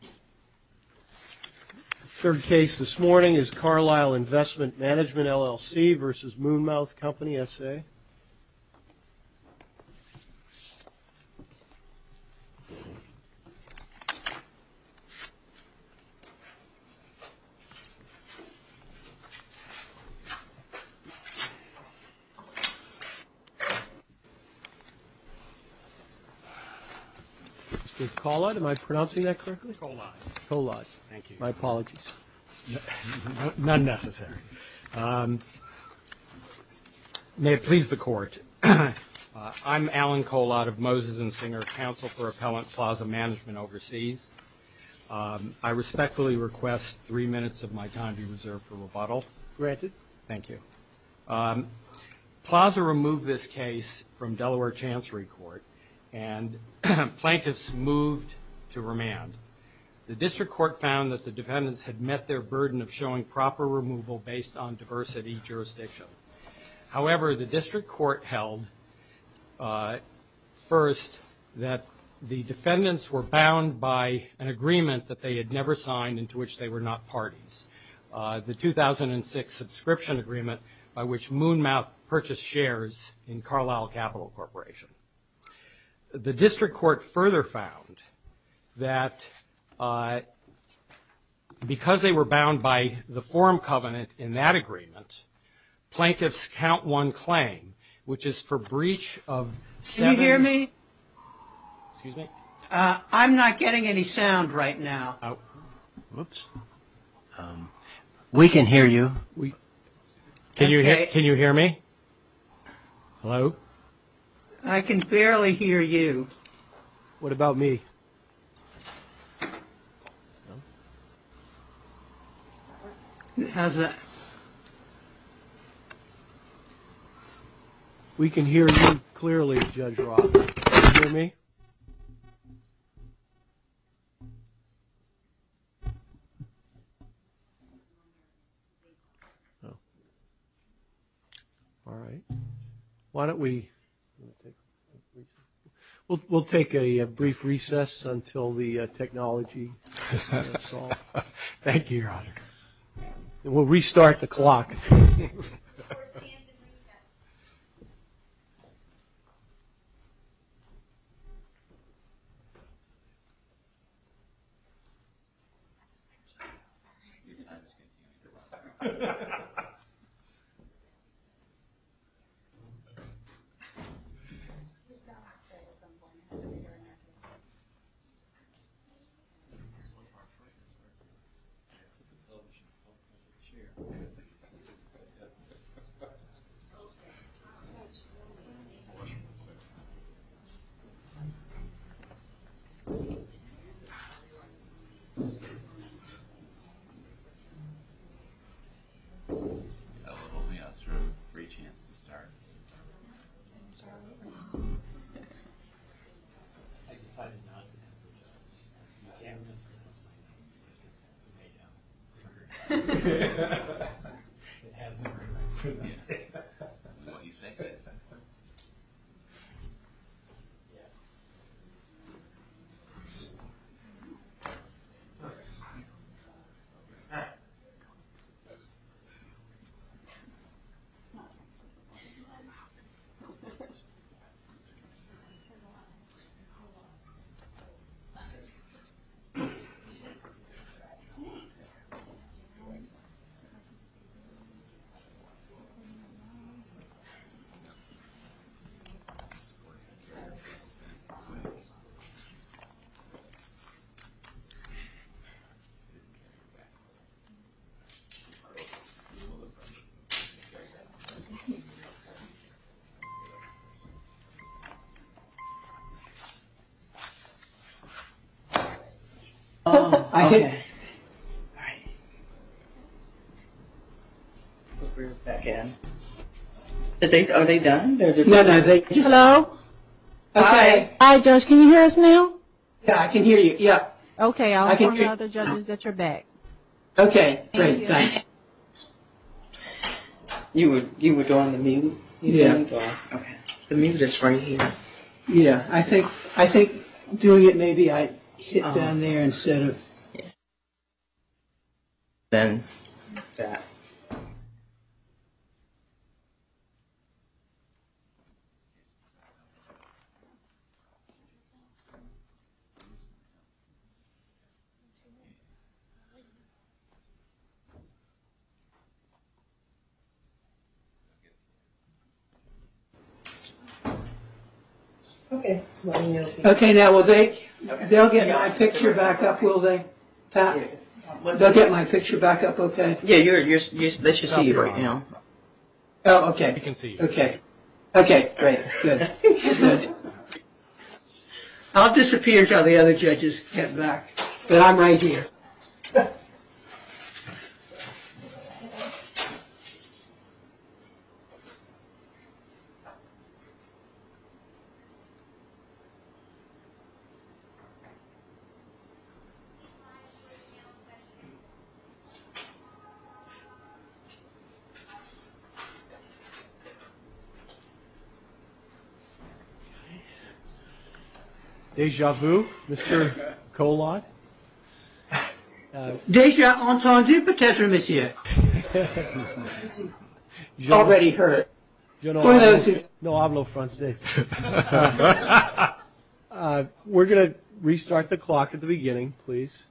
The third case this morning is Carlyle Investment Management, LLC v. Moonmouth Company, S.A. Mr. Collot, am I pronouncing that correctly? Collot. Collot. Thank you. My apologies. Not necessary. May it please the Court, I'm Alan Collot of Moses and Singer Counsel for Appellant Plaza Management Overseas. I respectfully request three minutes of my time be reserved for rebuttal. Granted. Thank you. Plaza removed this case from Delaware Chancery Court and plaintiffs moved to remand. The district court found that the defendants had met their burden of showing proper removal based on diversity jurisdiction. However, the district court held first that the defendants were bound by an agreement that they had never signed and to which they were not parties, the 2006 subscription agreement by which Moonmouth purchased shares in Carlyle Capital Corporation. The district court further found that because they were bound by the forum covenant in that the plaintiffs count one claim, which is for breach of seven. Can you hear me? Excuse me? I'm not getting any sound right now. Oops. We can hear you. Can you hear me? Hello? I can barely hear you. What about me? How's that? We can hear you clearly, Judge Roth. Can you hear me? No. All right. Why don't we... We'll take a brief recess until the technology gets installed. Thank you, Your Honor. We'll restart the clock. All right. Thank you. Thank you. Thank you. Thank you. Thank you. All right. We're back in. Are they done? No, no. Hello? Hi. Hi, Judge. Can you hear us now? Yeah, I can hear you. Yeah. Okay. I'll call the other judges that are back. Okay. Great. Thanks. Thank you. You were doing the mute? Yeah. Okay. The mute is right here. Yeah. I think doing it maybe I hit down there instead of... Then that. Okay. Okay, now will they... They'll get my picture back up, will they? Pat? They'll get my picture back up, okay? Yeah, they should see you right now. Oh, okay. They can see you. Okay. Okay, great. Good. Good. I'll disappear until the other judges get back, but I'm right here. Déjà vu, Mr. Collot? Déjà entendu, peut-être, monsieur. Already heard. No, I have no French. We're going to restart the clock at the beginning, please.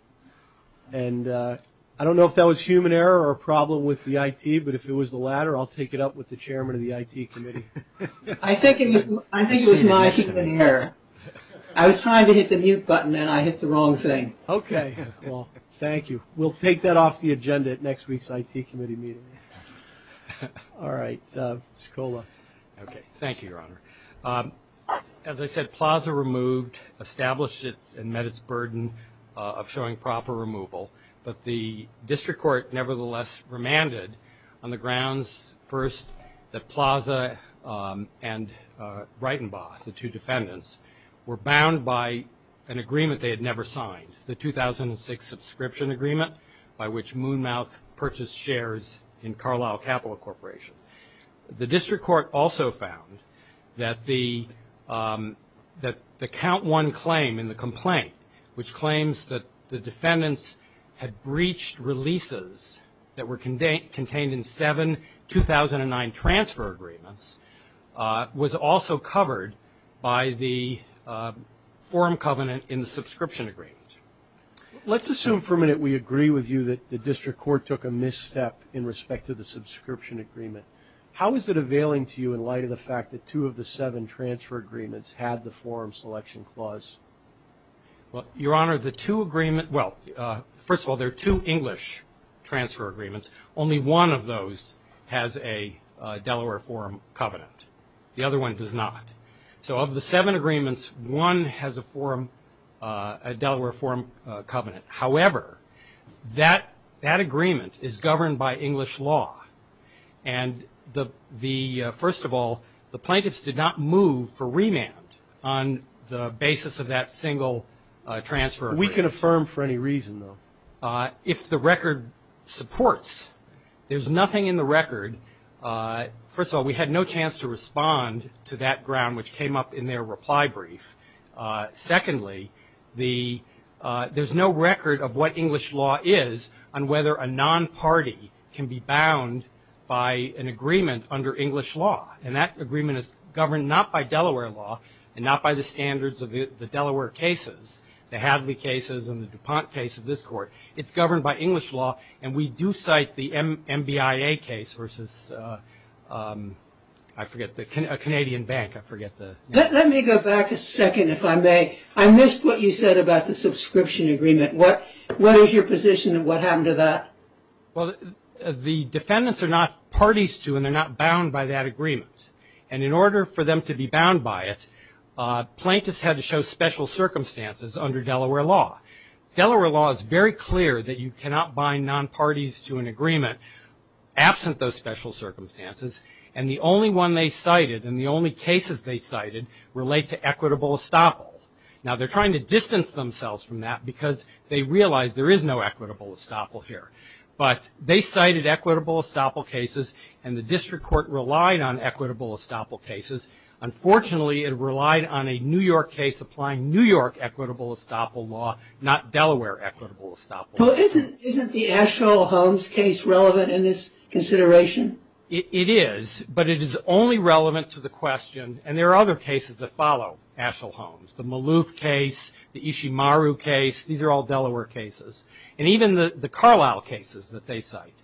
And I don't know if that was human error or a problem with the IT, but if it was the latter, I'll take it up with the chairman of the IT committee. I think it was my human error. I was trying to hit the mute button and I hit the wrong thing. Okay. Well, thank you. We'll take that off the agenda at next week's IT committee meeting. All right, Mr. Collot. Okay, thank you, Your Honor. As I said, Plaza removed, established and met its burden of showing proper removal, but the district court nevertheless remanded on the grounds, first, that Plaza and Breitenbach, the two defendants, were bound by an agreement they had never signed, the 2006 subscription agreement, by which Moonmouth purchased shares in Carlyle Capital Corporation. The district court also found that the count one claim in the complaint, which claims that the defendants had breached releases that were contained in seven 2009 transfer agreements, was also covered by the forum covenant in the subscription agreement. Let's assume for a minute we agree with you that the district court took a misstep in respect to the subscription agreement. How is it availing to you in light of the fact that two of the seven transfer agreements had the forum selection clause? Well, Your Honor, the two agreement – well, first of all, there are two English transfer agreements. Only one of those has a Delaware forum covenant. The other one does not. So of the seven agreements, one has a forum – a Delaware forum covenant. However, that agreement is governed by English law. And the – first of all, the plaintiffs did not move for remand on the basis of that single transfer agreement. We can affirm for any reason, though. If the record supports, there's nothing in the record. First of all, we had no chance to respond to that ground, which came up in their reply brief. Secondly, the – there's no record of what English law is on whether a non-party can be bound by an agreement under English law. And that agreement is governed not by Delaware law and not by the standards of the Delaware cases, the Hadley cases and the DuPont case of this court. It's governed by English law. And we do cite the MBIA case versus – I forget – a Canadian bank. I forget the name. Let me go back a second, if I may. I missed what you said about the subscription agreement. What is your position of what happened to that? Well, the defendants are not parties to and they're not bound by that agreement. And in order for them to be bound by it, plaintiffs had to show special circumstances under Delaware law. Delaware law is very clear that you cannot bind non-parties to an agreement absent those special circumstances. And the only one they cited and the only cases they cited relate to equitable estoppel. Now, they're trying to distance themselves from that because they realize there is no equitable estoppel here. But they cited equitable estoppel cases and the district court relied on equitable estoppel cases. Unfortunately, it relied on a New York case applying New York equitable estoppel law, not Delaware equitable estoppel law. Well, isn't the Asheville-Holmes case relevant in this consideration? It is, but it is only relevant to the question. And there are other cases that follow Asheville-Holmes, the Maloof case, the Ishimaru case. These are all Delaware cases. And even the Carlisle cases that they cite.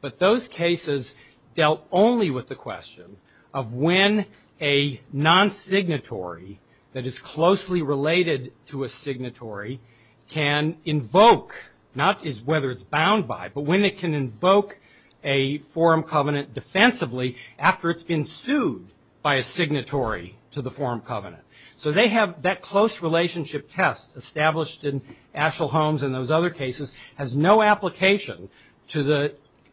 But those cases dealt only with the question of when a non-signatory that is closely related to a signatory can invoke, not whether it's bound by, but when it can invoke a forum covenant defensively after it's been sued by a signatory to the forum covenant. So they have that close relationship test established in Asheville-Holmes and those other cases has no application to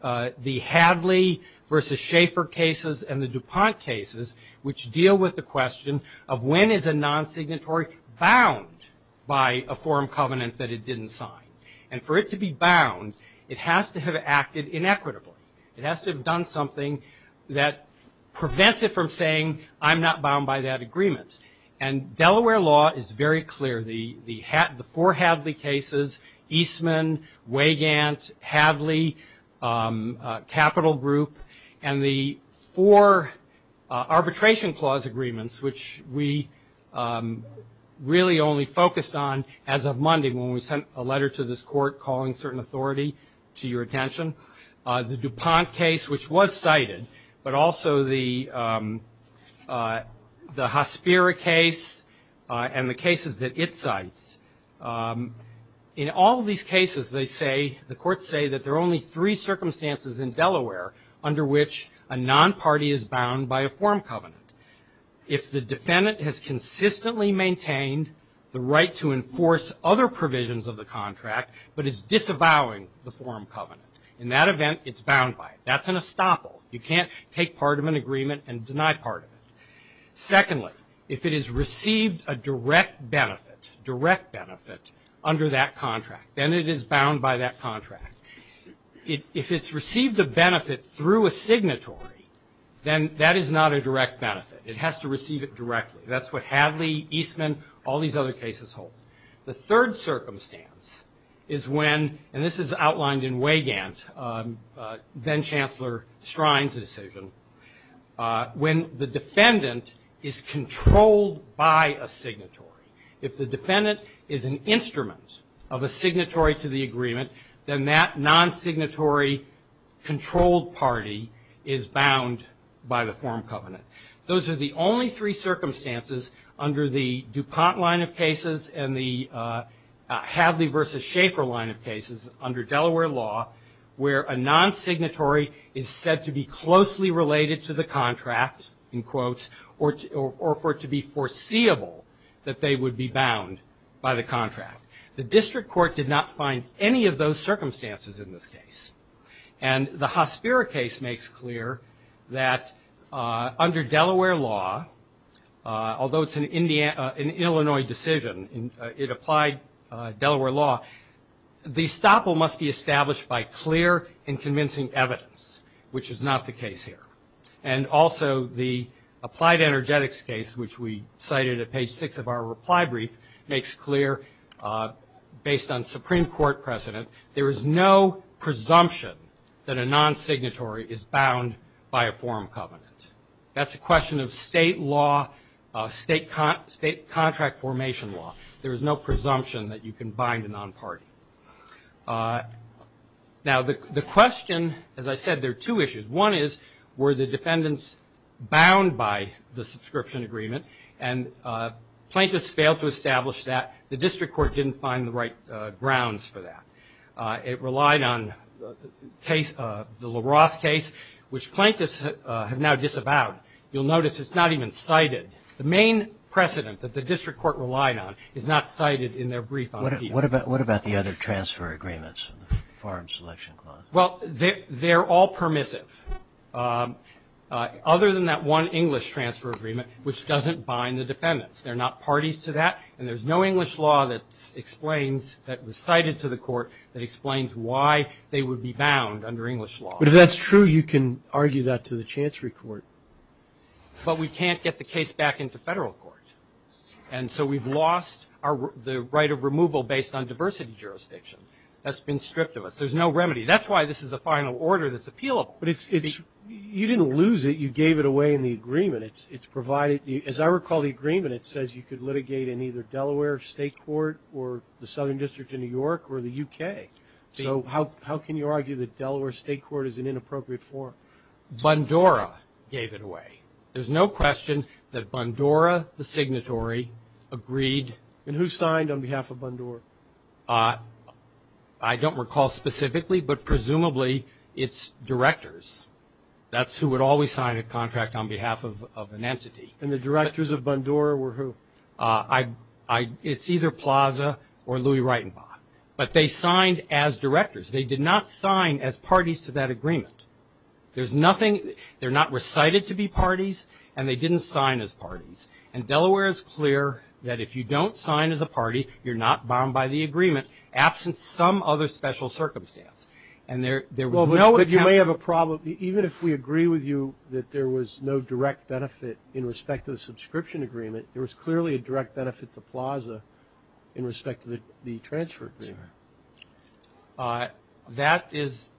the Hadley versus Schaefer cases and the DuPont cases, which deal with the question of when is a non-signatory bound by a forum covenant that it didn't sign. And for it to be bound, it has to have acted inequitably. It has to have done something that prevents it from saying, I'm not bound by that agreement. And Delaware law is very clear. The four Hadley cases, Eastman, Weygandt, Hadley, Capital Group, and the four arbitration clause agreements, which we really only focused on as of Monday when we sent a letter to this court calling certain authority to your attention. The DuPont case, which was cited, but also the Hospira case and the cases that it cites. In all of these cases, they say, the courts say that there are only three circumstances in Delaware under which a non-party is bound by a forum covenant. If the defendant has consistently maintained the right to enforce other provisions of the contract, but is disavowing the forum covenant, in that event, it's bound by it. That's an estoppel. You can't take part of an agreement and deny part of it. Secondly, if it has received a direct benefit, direct benefit, under that contract, then it is bound by that contract. If it's received a benefit through a signatory, then that is not a direct benefit. It has to receive it directly. That's what Hadley, Eastman, all these other cases hold. The third circumstance is when, and this is outlined in Weygandt, then-Chancellor Strine's decision, when the defendant is controlled by a signatory. If the defendant is an instrument of a signatory to the agreement, then that non-signatory controlled party is bound by the forum covenant. Those are the only three circumstances under the DuPont line of cases and the Hadley v. Schaeffer line of cases under Delaware law where a non-signatory is said to be closely related to the contract, in quotes, or for it to be foreseeable that they would be bound by the contract. The district court did not find any of those circumstances in this case. And the Hospira case makes clear that under Delaware law, although it's an Illinois decision, it applied Delaware law, the estoppel must be established by clear and convincing evidence, which is not the case here. And also the applied energetics case, which we cited at page six of our reply brief, makes clear, based on Supreme Court precedent, there is no presumption that a non-signatory is bound by a forum covenant. That's a question of state law, state contract formation law. There is no presumption that you can bind a non-party. Now, the question, as I said, there are two issues. One is, were the defendants bound by the subscription agreement? And plaintiffs failed to establish that. The district court didn't find the right grounds for that. It relied on the LaRosse case, which plaintiffs have now disavowed. You'll notice it's not even cited. The main precedent that the district court relied on is not cited in their brief. What about the other transfer agreements, the forum selection clause? Well, they're all permissive. Other than that one English transfer agreement, which doesn't bind the defendants. There are not parties to that. And there's no English law that explains, that was cited to the Court, that explains why they would be bound under English law. But if that's true, you can argue that to the Chancery Court. But we can't get the case back into Federal court. And so we've lost the right of removal based on diversity jurisdiction. That's been stripped of us. There's no remedy. That's why this is a final order that's appealable. But you didn't lose it. You gave it away in the agreement. As I recall, the agreement, it says you could litigate in either Delaware State Court or the Southern District of New York or the U.K. So how can you argue that Delaware State Court is an inappropriate forum? Bundora gave it away. There's no question that Bundora, the signatory, agreed. And who signed on behalf of Bundora? I don't recall specifically, but presumably it's directors. That's who would always sign a contract on behalf of an entity. And the directors of Bundora were who? It's either Plaza or Louie Reitenbach. But they signed as directors. They did not sign as parties to that agreement. There's nothing, they're not recited to be parties, and they didn't sign as parties. And Delaware is clear that if you don't sign as a party, you're not bound by the agreement, absent some other special circumstance. And there was no account. Well, but you may have a problem. Even if we agree with you that there was no direct benefit in respect to the subscription agreement, there was clearly a direct benefit to Plaza in respect to the transfer agreement. That is,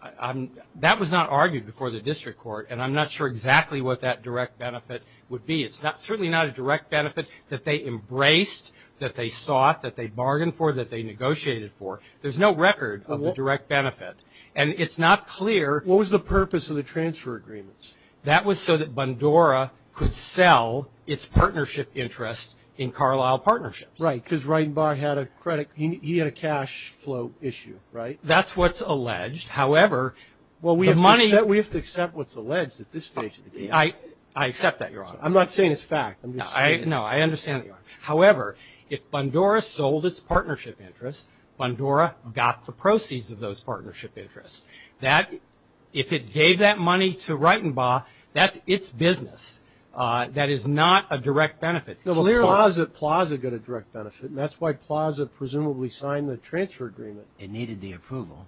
that was not argued before the district court, and I'm not sure exactly what that direct benefit would be. It's certainly not a direct benefit that they embraced, that they sought, that they bargained for, that they negotiated for. There's no record of the direct benefit. And it's not clear. What was the purpose of the transfer agreements? That was so that Bundora could sell its partnership interests in Carlisle Partnerships. Right, because Reitenbach had a credit, he had a cash flow issue, right? That's what's alleged. However, the money We have to accept what's alleged at this stage of the case. I accept that, Your Honor. I'm not saying it's fact. No, I understand, Your Honor. However, if Bundora sold its partnership interests, Bundora got the proceeds of those partnership interests. If it gave that money to Reitenbach, that's its business. That is not a direct benefit. No, but Plaza got a direct benefit, and that's why Plaza presumably signed the transfer agreement. It needed the approval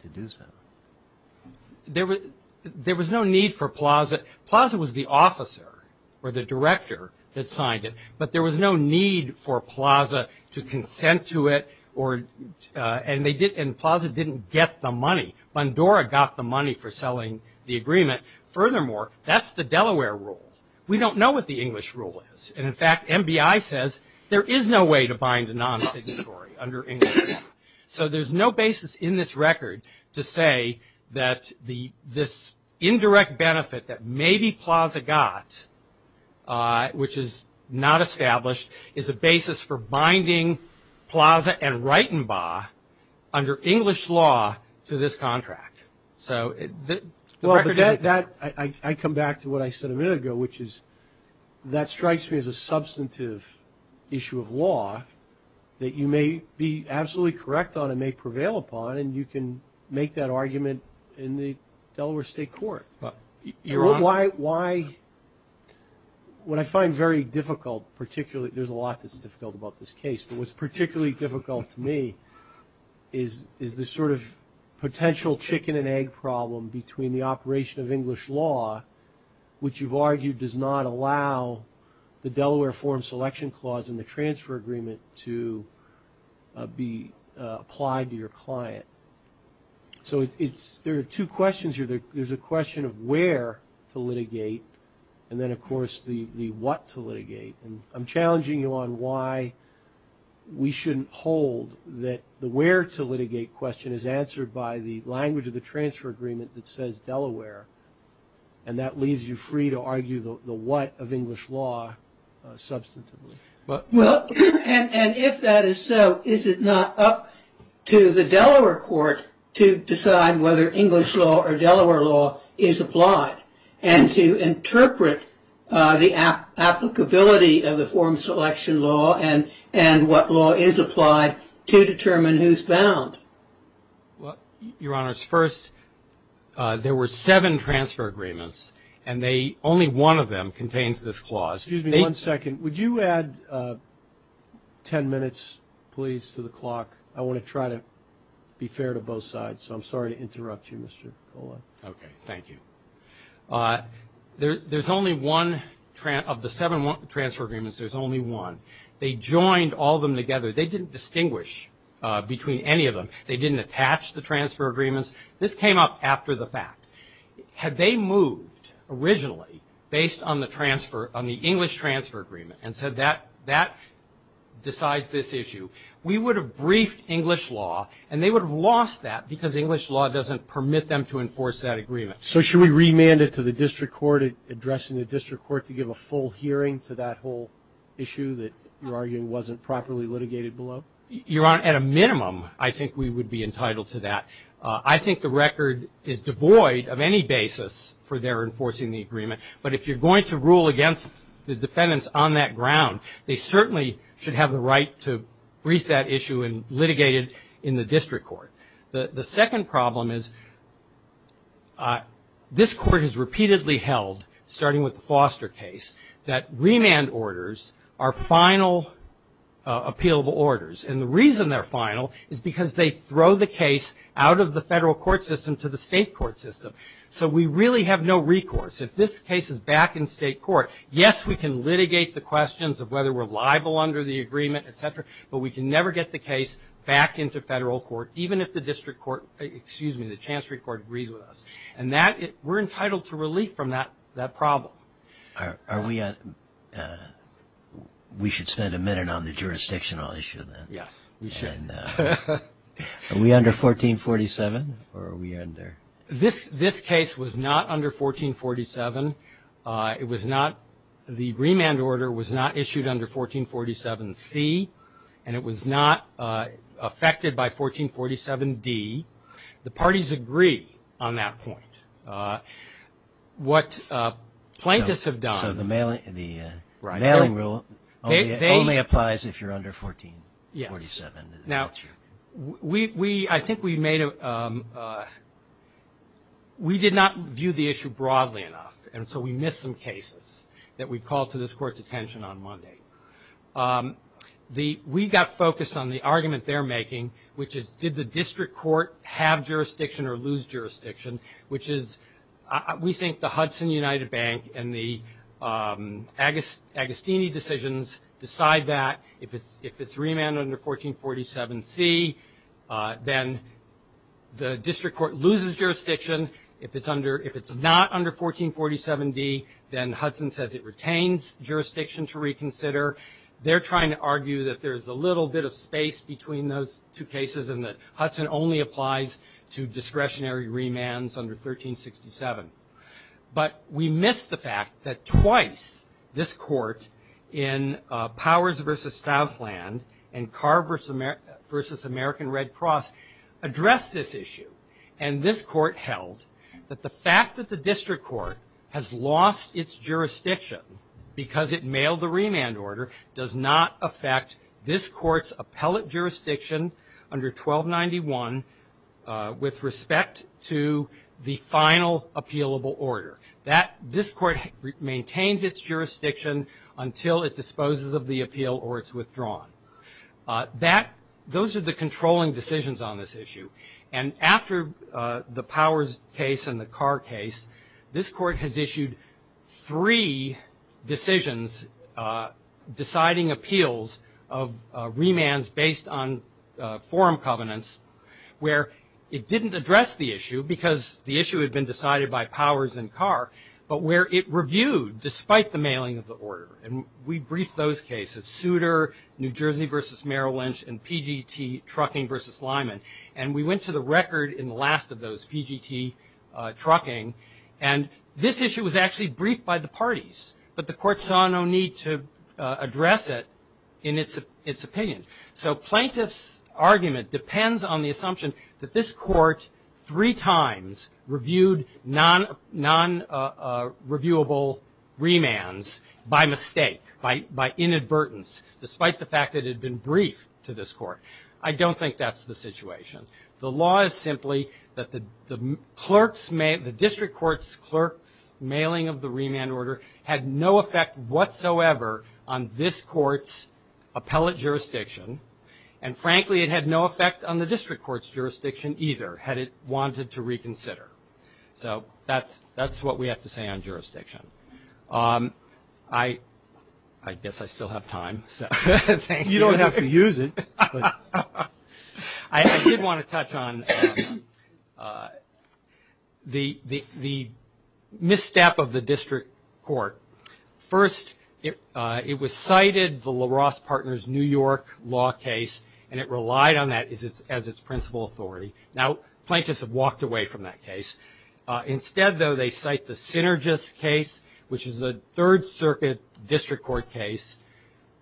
to do so. There was no need for Plaza. Plaza was the officer or the director that signed it. But there was no need for Plaza to consent to it, and Plaza didn't get the money. Bundora got the money for selling the agreement. Furthermore, that's the Delaware rule. We don't know what the English rule is. And, in fact, MBI says there is no way to bind a non-signatory under English law. So there's no basis in this record to say that this indirect benefit that maybe Plaza got, which is not established, is a basis for binding Plaza and Reitenbach under English law to this contract. Well, I come back to what I said a minute ago, which is that strikes me as a substantive issue of law that you may be absolutely correct on and may prevail upon, and you can make that argument in the Delaware State Court. Why, what I find very difficult, particularly, there's a lot that's difficult about this case, but what's particularly difficult to me is this sort of potential chicken-and-egg problem between the operation of English law, which you've argued does not allow the Delaware Form Selection Clause and the transfer agreement to be applied to your client. So there are two questions here. There's a question of where to litigate, and then, of course, the what to litigate. And I'm challenging you on why we shouldn't hold that the where to litigate question is answered by the language of the transfer agreement that says Delaware, and that leaves you free to argue the what of English law substantively. Well, and if that is so, is it not up to the Delaware court to decide whether English law or Delaware law is applied and to interpret the applicability of the form selection law and what law is applied to determine who's bound? Well, Your Honors, first, there were seven transfer agreements, and only one of them contains this clause. Excuse me one second. Would you add ten minutes, please, to the clock? I want to try to be fair to both sides, so I'm sorry to interrupt you, Mr. Colon. Okay. Thank you. There's only one of the seven transfer agreements. There's only one. They joined all of them together. They didn't distinguish between any of them. They didn't attach the transfer agreements. This came up after the fact. Had they moved originally based on the English transfer agreement and said that decides this issue, we would have briefed English law, and they would have lost that because English law doesn't permit them to enforce that agreement. So should we remand it to the district court addressing the district court to give a full hearing to that whole issue that you're arguing wasn't properly litigated below? Your Honor, at a minimum, I think we would be entitled to that. I think the record is devoid of any basis for their enforcing the agreement, but if you're going to rule against the defendants on that ground, they certainly should have the right to brief that issue and litigate it in the district court. The second problem is this court has repeatedly held, starting with the Foster case, that remand orders are final appealable orders, and the reason they're final is because they throw the case out of the federal court system to the state court system. So we really have no recourse. If this case is back in state court, yes, we can litigate the questions of whether we're liable under the agreement, et cetera, but we can never get the case back into federal court, even if the district court, excuse me, the chancery court agrees with us. And that, we're entitled to relief from that problem. Are we on? We should spend a minute on the jurisdictional issue then. Yes, we should. Are we under 1447, or are we under? This case was not under 1447. It was not, the remand order was not issued under 1447C, and it was not affected by 1447D. The parties agree on that point. What plaintiffs have done. So the mailing rule only applies if you're under 1447. Yes. Now, we, I think we made a, we did not view the issue broadly enough, and so we missed some cases that we called to this court's attention on Monday. We got focused on the argument they're making, which is did the district court have jurisdiction or lose jurisdiction, which is we think the Hudson United Bank and the Agostini decisions decide that. If it's remanded under 1447C, then the district court loses jurisdiction. If it's under, if it's not under 1447D, then Hudson says it retains jurisdiction to reconsider. They're trying to argue that there's a little bit of space between those two cases and that Hudson only applies to discretionary remands under 1367. But we missed the fact that twice this court in Powers v. Southland and Carr v. American Red Cross addressed this issue, and this court held that the fact that the district court has lost its jurisdiction because it mailed the remand order does not affect this court's appellate jurisdiction under 1291 with respect to the final appealable order. This court maintains its jurisdiction until it disposes of the appeal or it's withdrawn. Those are the controlling decisions on this issue, and after the Powers case and the Carr case, this court has issued three decisions deciding appeals of remands based on forum covenants where it didn't address the issue because the issue had been decided by Powers and Carr, but where it reviewed despite the mailing of the order. And we briefed those cases, Souter, New Jersey v. Merrill Lynch, and PGT Trucking v. Lyman, and we went to the record in the last of those, PGT Trucking, and this issue was actually briefed by the parties, but the court saw no need to address it in its opinion. So plaintiff's argument depends on the assumption that this court three times reviewed non-reviewable remands by mistake, by inadvertence, despite the fact that it had been briefed to this court. I don't think that's the situation. The law is simply that the district court's clerk's mailing of the remand order had no effect whatsoever on this court's appellate jurisdiction, and frankly it had no effect on the district court's jurisdiction either had it wanted to reconsider. So that's what we have to say on jurisdiction. I guess I still have time. Thank you. You don't have to use it. I did want to touch on the misstep of the district court. First, it was cited, the LaRosse Partners New York law case, and it relied on that as its principal authority. Now, plaintiffs have walked away from that case. Instead, though, they cite the Synergis case, which is a Third Circuit district court case,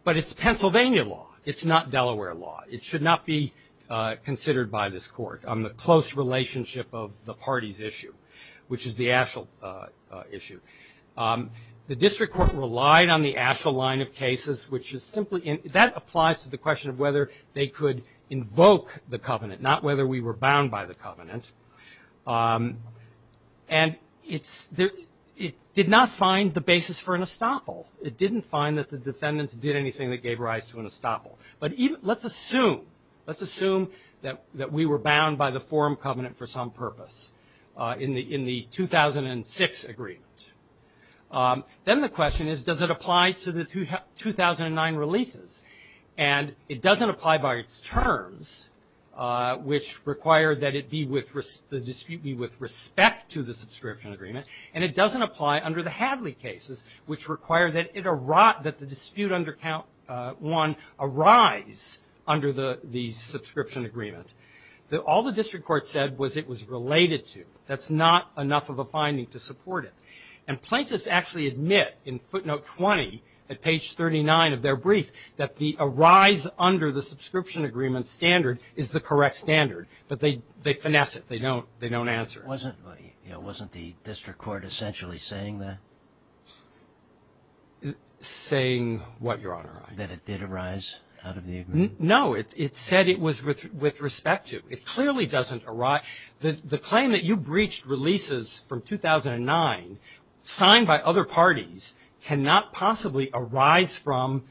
but it's Pennsylvania law. It's not Delaware law. It should not be considered by this court on the close relationship of the parties issue, which is the Asheville issue. The district court relied on the Asheville line of cases, which is simply that applies to the question of whether they could invoke the covenant, not whether we were bound by the covenant. And it did not find the basis for an estoppel. It didn't find that the defendants did anything that gave rise to an estoppel. But let's assume that we were bound by the forum covenant for some purpose in the 2006 agreement. Then the question is, does it apply to the 2009 releases? And it doesn't apply by its terms, which require that the dispute be with respect to the subscription agreement, and it doesn't apply under the Hadley cases, which require that the dispute under count one arise under the subscription agreement. All the district court said was it was related to. That's not enough of a finding to support it. And plaintiffs actually admit in footnote 20 at page 39 of their brief that the arise under the subscription agreement standard is the correct standard, but they finesse it. They don't answer it. Wasn't the district court essentially saying that? Saying what, Your Honor? That it did arise out of the agreement. No, it said it was with respect to. It clearly doesn't arise. The claim that you breached releases from 2009 signed by other parties cannot possibly arise from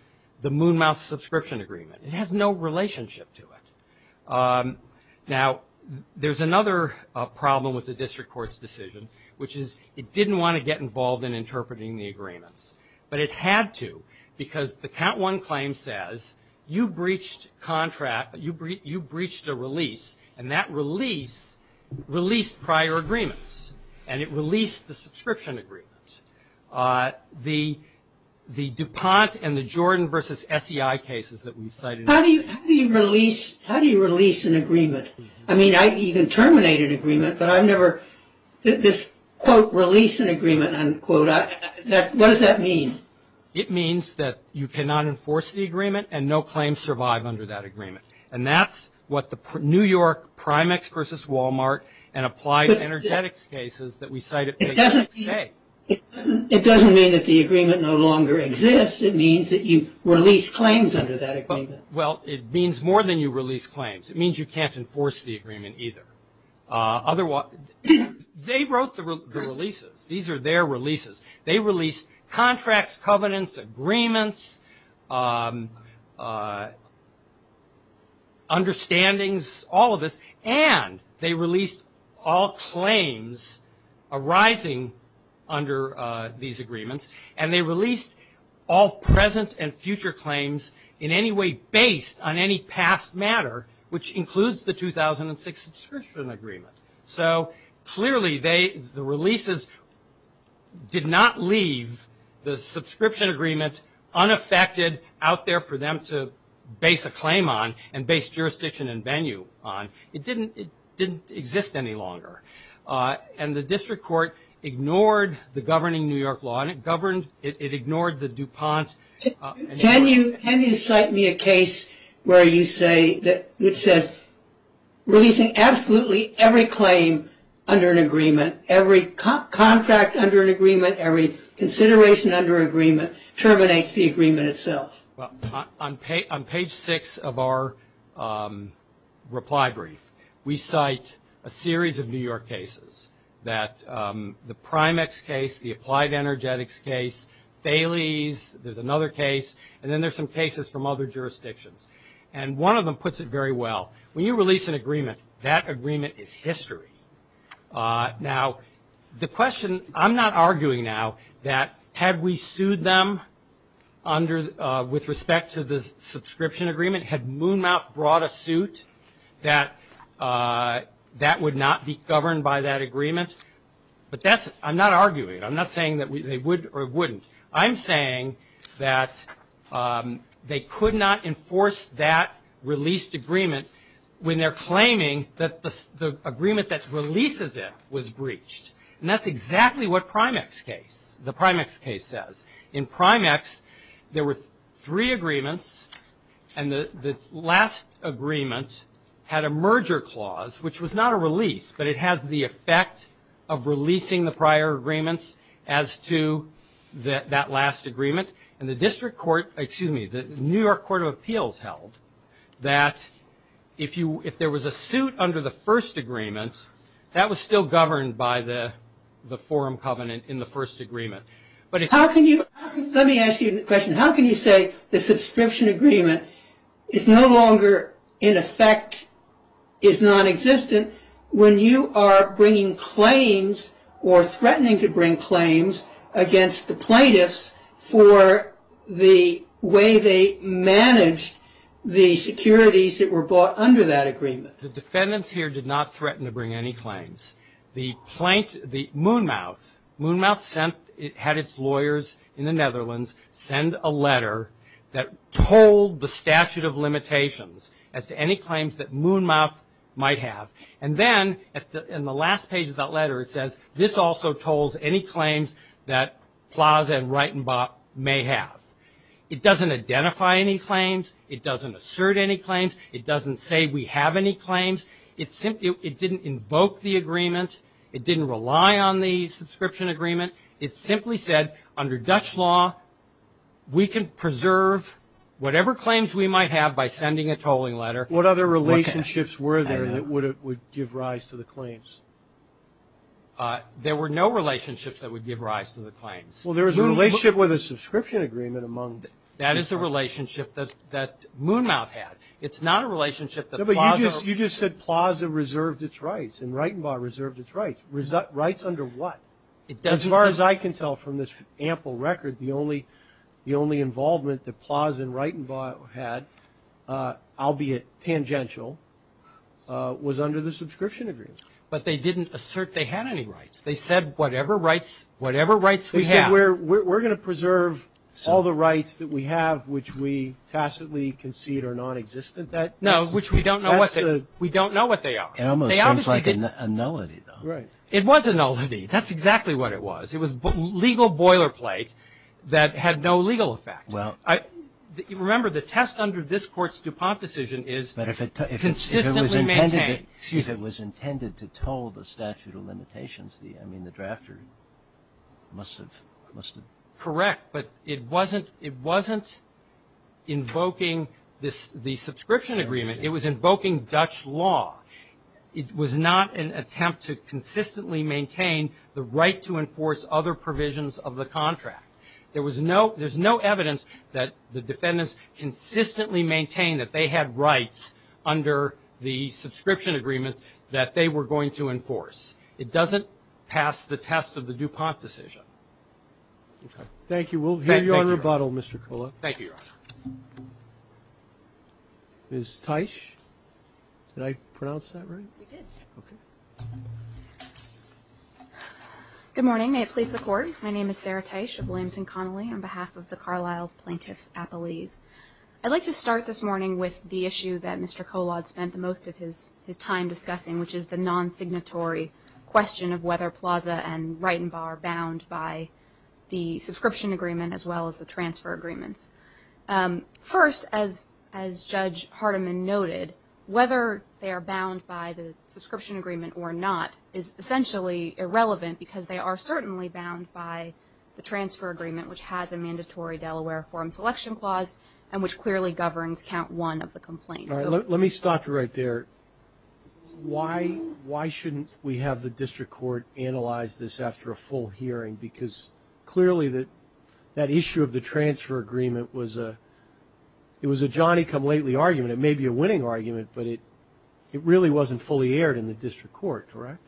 the Moon Mouth subscription agreement. It has no relationship to it. Now, there's another problem with the district court's decision, which is it didn't want to get involved in interpreting the agreements, but it had to because the count one claim says you breached a release, and that release released prior agreements, and it released the subscription agreement. The DuPont and the Jordan versus SEI cases that we've cited. How do you release an agreement? I mean, you can terminate an agreement, but I've never this, quote, release an agreement, unquote. What does that mean? It means that you cannot enforce the agreement and no claims survive under that agreement. And that's what the New York Primex versus Walmart and applied energetics cases that we cited say. It doesn't mean that the agreement no longer exists. It means that you release claims under that agreement. Well, it means more than you release claims. It means you can't enforce the agreement either. They wrote the releases. These are their releases. They released contracts, covenants, agreements, understandings, all of this, and they released all claims arising under these agreements, and they released all present and future claims in any way based on any past matter, which includes the 2006 subscription agreement. So clearly the releases did not leave the subscription agreement unaffected out there for them to base a claim on and base jurisdiction and venue on. It didn't exist any longer. And the district court ignored the governing New York law, and it ignored the DuPont. Can you cite me a case where you say that it says releasing absolutely every claim under an agreement, every contract under an agreement, every consideration under an agreement, terminates the agreement itself. On page six of our reply brief, we cite a series of New York cases that the Primex case, the Applied Energetics case, Thales, there's another case, and then there's some cases from other jurisdictions. And one of them puts it very well. When you release an agreement, that agreement is history. Now, the question, I'm not arguing now that had we sued them with respect to the subscription agreement, had Moonmouth brought a suit that that would not be governed by that agreement. But I'm not arguing. I'm not saying that they would or wouldn't. I'm saying that they could not enforce that released agreement when they're claiming that the agreement that releases it was breached. And that's exactly what Primex case, the Primex case says. In Primex, there were three agreements, and the last agreement had a merger clause, which was not a release, but it has the effect of releasing the prior agreements as to that last agreement. And the district court, excuse me, the New York Court of Appeals held that if there was a suit under the first agreement, that was still governed by the forum covenant in the first agreement. Let me ask you a question. How can you say the subscription agreement is no longer in effect, is nonexistent, when you are bringing claims or threatening to bring claims against the plaintiffs for the way they managed the securities that were bought under that agreement? The defendants here did not threaten to bring any claims. The Moon Mouth had its lawyers in the Netherlands send a letter that told the statute of limitations as to any claims that Moon Mouth might have. And then in the last page of that letter, it says this also told any claims that Plaza and Reitenbach may have. It doesn't identify any claims. It doesn't assert any claims. It doesn't say we have any claims. It didn't invoke the agreement. It didn't rely on the subscription agreement. It simply said, under Dutch law, we can preserve whatever claims we might have by sending a tolling letter. What other relationships were there that would give rise to the claims? There were no relationships that would give rise to the claims. Well, there was a relationship with a subscription agreement among them. That is a relationship that Moon Mouth had. It's not a relationship that Plaza – No, but you just said Plaza reserved its rights and Reitenbach reserved its rights. Rights under what? As far as I can tell from this ample record, the only involvement that Plaza and Reitenbach had, albeit tangential, was under the subscription agreement. But they didn't assert they had any rights. They said whatever rights we have – No, which we don't know what they are. It almost seems like a nullity, though. It was a nullity. That's exactly what it was. It was legal boilerplate that had no legal effect. Remember, the test under this Court's DuPont decision is consistently maintained. But if it was intended to toll the statute of limitations, I mean, the drafter must have – Correct, but it wasn't invoking the subscription agreement. It was invoking Dutch law. It was not an attempt to consistently maintain the right to enforce other provisions of the contract. There's no evidence that the defendants consistently maintained that they had rights under the subscription agreement that they were going to enforce. It doesn't pass the test of the DuPont decision. Okay. Thank you. We'll hear your rebuttal, Mr. Kolod. Thank you, Your Honor. Ms. Teich? Did I pronounce that right? You did. Okay. Good morning. May it please the Court. My name is Sarah Teich of Williamson Connolly on behalf of the Carlisle Plaintiffs Appellees. I'd like to start this morning with the issue that Mr. Kolod spent the most of his time discussing, which is the non-signatory question of whether Plaza and Wrighton Bar are bound by the subscription agreement as well as the transfer agreements. First, as Judge Hardiman noted, whether they are bound by the subscription agreement or not is essentially irrelevant because they are certainly bound by the transfer agreement, which has a mandatory Delaware Forum Selection Clause and which clearly governs count one of the complaints. All right. Let me stop you right there. Why shouldn't we have the district court analyze this after a full hearing? Because clearly that issue of the transfer agreement was a Johnny-come-lately argument. It may be a winning argument, but it really wasn't fully aired in the district court, correct?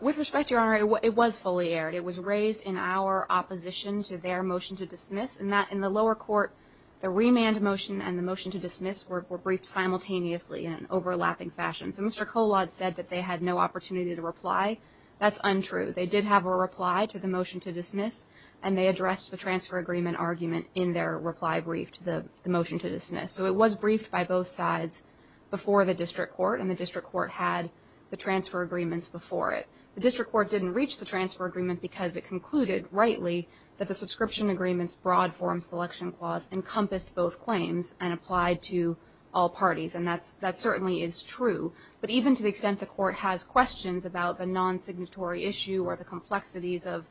With respect, Your Honor, it was fully aired. It was raised in our opposition to their motion to dismiss. In the lower court, the remand motion and the motion to dismiss were briefed simultaneously in an overlapping fashion. So Mr. Kolod said that they had no opportunity to reply. That's untrue. They did have a reply to the motion to dismiss, and they addressed the transfer agreement argument in their reply brief to the motion to dismiss. So it was briefed by both sides before the district court, and the district court had the transfer agreements before it. The district court didn't reach the transfer agreement because it concluded, rightly, that the subscription agreement's broad forum selection clause encompassed both claims and applied to all parties, and that certainly is true. But even to the extent the court has questions about the non-signatory issue or the complexities of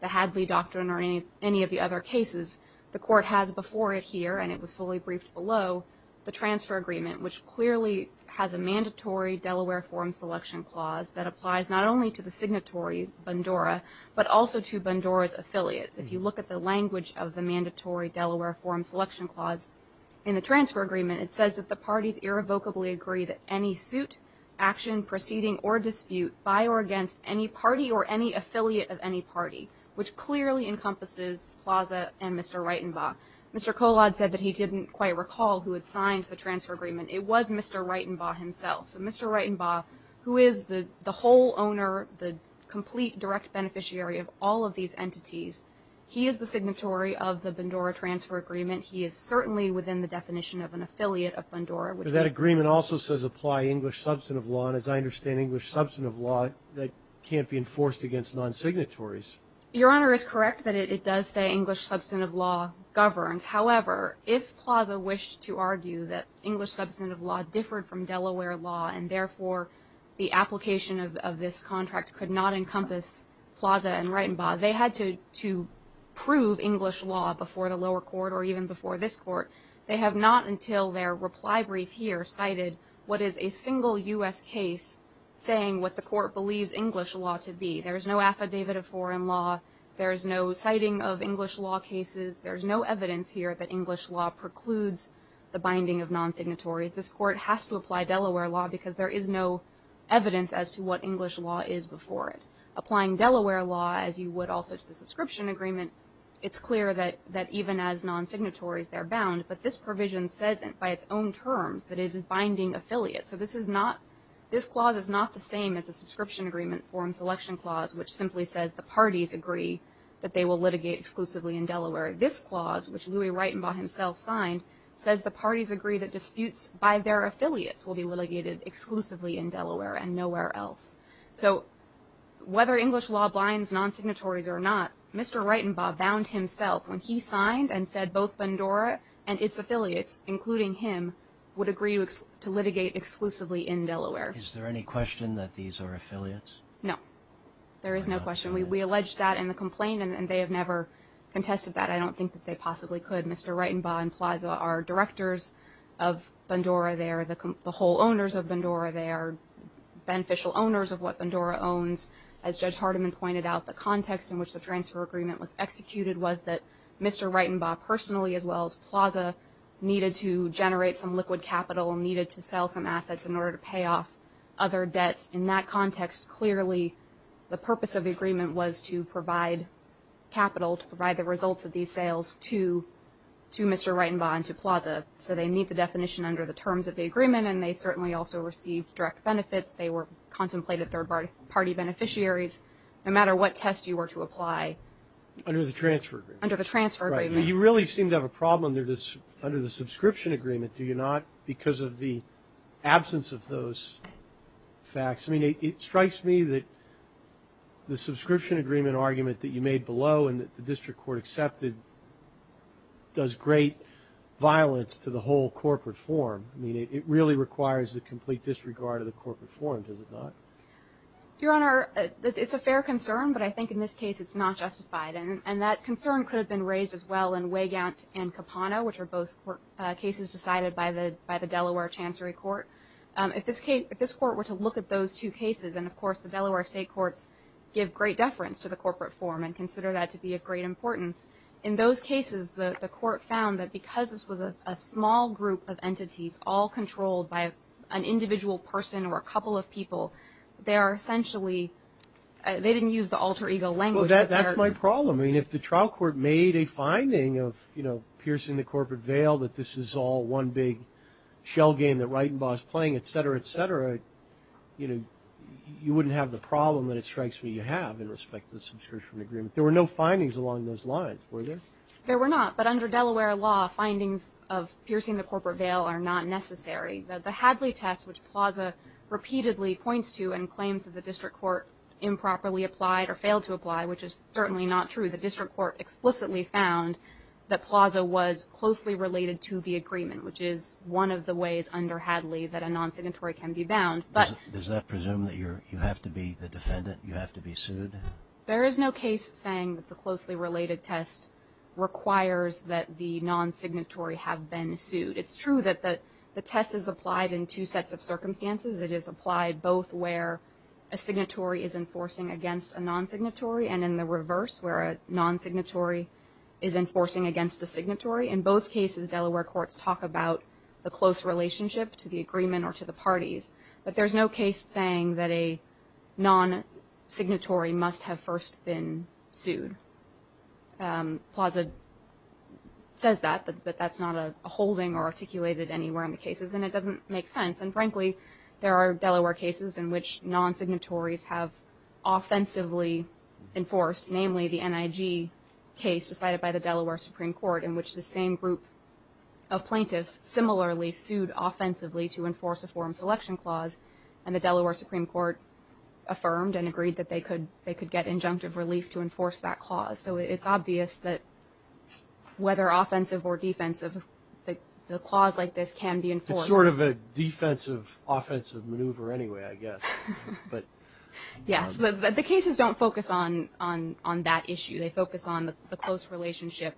the Hadley Doctrine or any of the other cases, the court has before it here, and it was fully briefed below, the transfer agreement, which clearly has a mandatory Delaware forum selection clause that applies not only to the signatory, Bandora, but also to Bandora's affiliates. If you look at the language of the mandatory Delaware forum selection clause in the transfer agreement, it says that the parties irrevocably agree that any suit, action, proceeding, or dispute by or against any party or any affiliate of any party, which clearly encompasses Plaza and Mr. Reitenbaugh. Mr. Kolod said that he didn't quite recall who had signed the transfer agreement. It was Mr. Reitenbaugh himself. So Mr. Reitenbaugh, who is the whole owner, the complete direct beneficiary of all of these entities, he is the signatory of the Bandora transfer agreement. He is certainly within the definition of an affiliate of Bandora. But that agreement also says apply English substantive law, and as I understand, English substantive law can't be enforced against non-signatories. Your Honor is correct that it does say English substantive law governs. However, if Plaza wished to argue that English substantive law differed from Delaware law and therefore the application of this contract could not encompass Plaza and Reitenbaugh, they had to prove English law before the lower court or even before this court. They have not until their reply brief here cited what is a single U.S. case saying what the court believes English law to be. There is no affidavit of foreign law. There is no citing of English law cases. There is no evidence here that English law precludes the binding of non-signatories. This court has to apply Delaware law because there is no evidence as to what English law is before it. Applying Delaware law, as you would also to the subscription agreement, it's clear that even as non-signatories they're bound, but this provision says it by its own terms that it is binding affiliates. So this clause is not the same as the subscription agreement foreign selection clause, which simply says the parties agree that they will litigate exclusively in Delaware. This clause, which Louis Reitenbaugh himself signed, says the parties agree that disputes by their affiliates will be litigated exclusively in Delaware and nowhere else. So whether English law binds non-signatories or not, Mr. Reitenbaugh bound himself when he signed and said both Bandura and its affiliates, including him, would agree to litigate exclusively in Delaware. Is there any question that these are affiliates? No. There is no question. We allege that in the complaint, and they have never contested that. I don't think that they possibly could. Mr. Reitenbaugh and Plaza are directors of Bandura. They are the whole owners of Bandura. They are beneficial owners of what Bandura owns. As Judge Hardiman pointed out, the context in which the transfer agreement was executed was that Mr. Reitenbaugh personally, as well as Plaza, needed to generate some liquid capital and needed to sell some assets in order to pay off other debts. In that context, clearly the purpose of the agreement was to provide capital, to provide the results of these sales to Mr. Reitenbaugh and to Plaza. So they meet the definition under the terms of the agreement, and they certainly also received direct benefits. They were contemplated third-party beneficiaries. No matter what test you were to apply. Under the transfer agreement. Under the transfer agreement. Right. You really seem to have a problem under the subscription agreement, do you not, because of the absence of those facts? I mean, it strikes me that the subscription agreement argument that you made below and that the district court accepted does great violence to the whole corporate form. I mean, it really requires the complete disregard of the corporate form, does it not? Your Honor, it's a fair concern, but I think in this case it's not justified. And that concern could have been raised as well in Weygant and Capano, which are both cases decided by the Delaware Chancery Court. If this court were to look at those two cases, and of course the Delaware state courts give great deference to the corporate form and consider that to be of great importance, in those cases the court found that because this was a small group of entities, all controlled by an individual person or a couple of people, they are essentially they didn't use the alter ego language. Well, that's my problem. I mean, if the trial court made a finding of, you know, piercing the corporate veil, that this is all one big shell game that Reitenbaugh is playing, et cetera, et cetera, you know, you wouldn't have the problem that it strikes me you have in respect to the subscription agreement. There were no findings along those lines, were there? There were not, but under Delaware law, findings of piercing the corporate veil are not necessary. The Hadley test, which Plaza repeatedly points to and claims that the district court improperly applied or failed to apply, which is certainly not true. The district court explicitly found that Plaza was closely related to the agreement, which is one of the ways under Hadley that a non-signatory can be bound. Does that presume that you have to be the defendant, you have to be sued? There is no case saying that the closely related test requires that the non-signatory have been sued. It's true that the test is applied in two sets of circumstances. It is applied both where a signatory is enforcing against a non-signatory and in the reverse where a non-signatory is enforcing against a signatory. In both cases, Delaware courts talk about the close relationship to the agreement or to the parties, but there's no case saying that a non-signatory must have first been sued. Plaza says that, but that's not a holding or articulated anywhere in the cases, and it doesn't make sense. And, frankly, there are Delaware cases in which non-signatories have offensively enforced, namely the NIG case decided by the Delaware Supreme Court in which the same group of plaintiffs similarly sued offensively to enforce a forum selection clause, and the Delaware Supreme Court affirmed and agreed that they could get injunctive relief to enforce that clause. So it's obvious that whether offensive or defensive, the clause like this can be enforced. It's sort of a defensive-offensive maneuver anyway, I guess. Yes, but the cases don't focus on that issue. They focus on the close relationship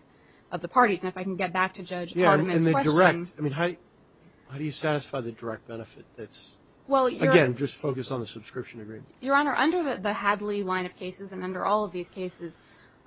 of the parties. And if I can get back to Judge Hardiman's question. Yeah, and the direct. I mean, how do you satisfy the direct benefit that's, again, just focused on the subscription agreement? Your Honor, under the Hadley line of cases and under all of these cases,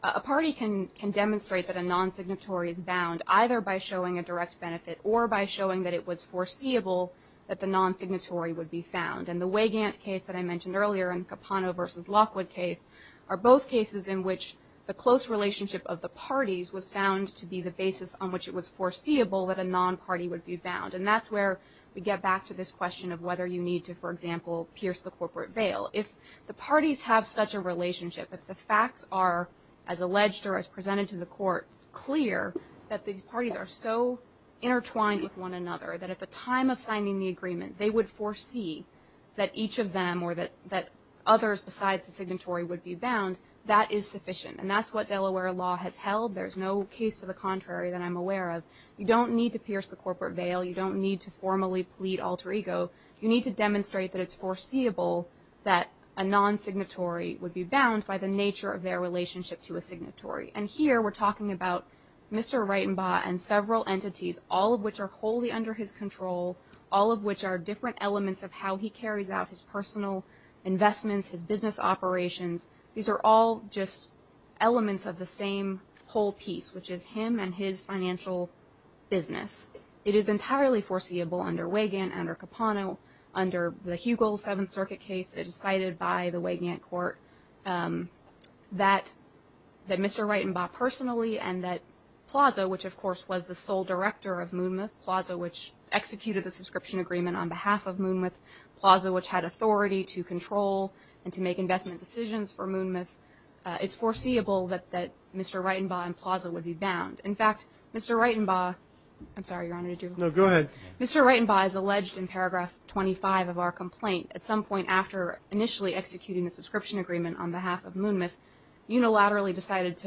a party can demonstrate that a non-signatory is bound either by showing a direct benefit or by showing that it was foreseeable that the non-signatory would be found. And the Weygandt case that I mentioned earlier and Capano v. Lockwood case are both cases in which the close relationship of the parties was found to be the basis on which it was foreseeable that a non-party would be bound. And that's where we get back to this question of whether you need to, for example, pierce the corporate veil. If the parties have such a relationship, if the facts are, as alleged or as presented to the court, clear that these parties are so intertwined with one another that at the time of signing the agreement they would foresee that each of them or that others besides the signatory would be bound, that is sufficient. And that's what Delaware law has held. There's no case to the contrary that I'm aware of. You don't need to pierce the corporate veil. You don't need to formally plead alter ego. You need to demonstrate that it's foreseeable that a non-signatory would be bound by the nature of their relationship to a signatory. And here we're talking about Mr. Reitenbaugh and several entities, all of which are wholly under his control, all of which are different elements of how he carries out his personal investments, his business operations. These are all just elements of the same whole piece, which is him and his financial business. It is entirely foreseeable under Wagan, under Capano, under the Hugel Seventh Circuit case that is cited by the Wagan court that Mr. Reitenbaugh personally and that Plaza, which, of course, was the sole director of Moonmouth Plaza, which executed the subscription agreement on behalf of Moonmouth Plaza, which had authority to control and to make investment decisions for Moonmouth, it's foreseeable that Mr. Reitenbaugh and Plaza would be bound. In fact, Mr. Reitenbaugh is alleged in paragraph 25 of our complaint. At some point after initially executing the subscription agreement on behalf of Moonmouth, unilaterally decided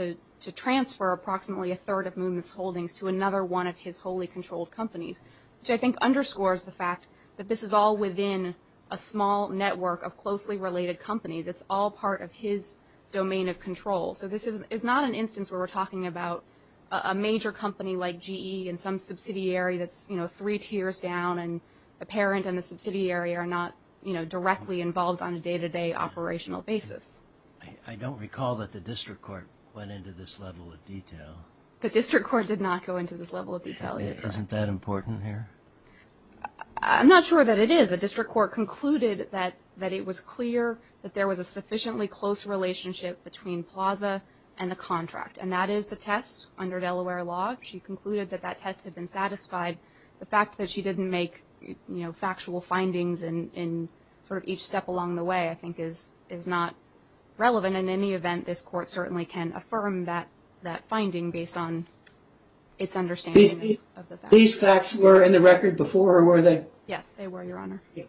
to transfer approximately a third of Moonmouth's holdings to another one of his wholly controlled companies, which I think underscores the fact that this is all within a small network of closely related companies. It's all part of his domain of control. So this is not an instance where we're talking about a major company like GE and some subsidiary that's three tiers down, and a parent and the subsidiary are not directly involved on a day-to-day operational basis. I don't recall that the district court went into this level of detail. The district court did not go into this level of detail. Isn't that important here? I'm not sure that it is. The district court concluded that it was clear that there was a sufficiently close relationship between Plaza and the contract, and that is the test under Delaware law. She concluded that that test had been satisfied. The fact that she didn't make factual findings in sort of each step along the way I think is not relevant. In any event, this court certainly can affirm that finding based on its understanding of the facts. These facts were in the record before, or were they? Yes, they were, Your Honor. Yes.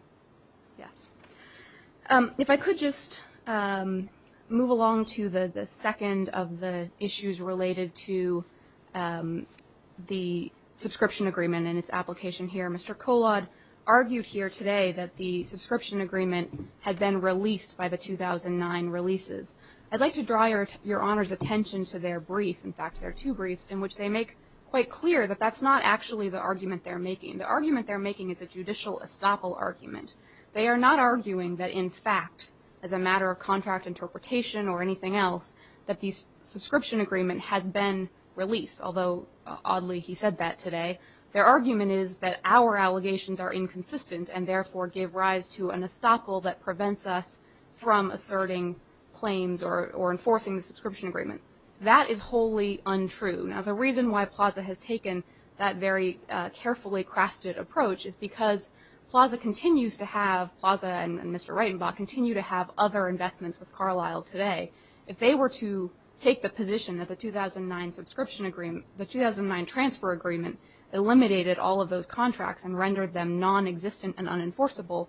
If I could just move along to the second of the issues related to the subscription agreement and its application here. Mr. Kolod argued here today that the subscription agreement had been released by the 2009 releases. I'd like to draw Your Honor's attention to their brief, in fact, their two briefs, in which they make quite clear that that's not actually the argument they're making. The argument they're making is a judicial estoppel argument. They are not arguing that in fact, as a matter of contract interpretation or anything else, that the subscription agreement has been released, although oddly he said that today. Their argument is that our allegations are inconsistent and therefore give rise to an estoppel that prevents us from asserting claims or enforcing the subscription agreement. That is wholly untrue. Now, the reason why PLAZA has taken that very carefully crafted approach is because PLAZA and Mr. Reitenbaugh continue to have other investments with Carlisle today. If they were to take the position that the 2009 transfer agreement eliminated all of those contracts and rendered them nonexistent and unenforceable,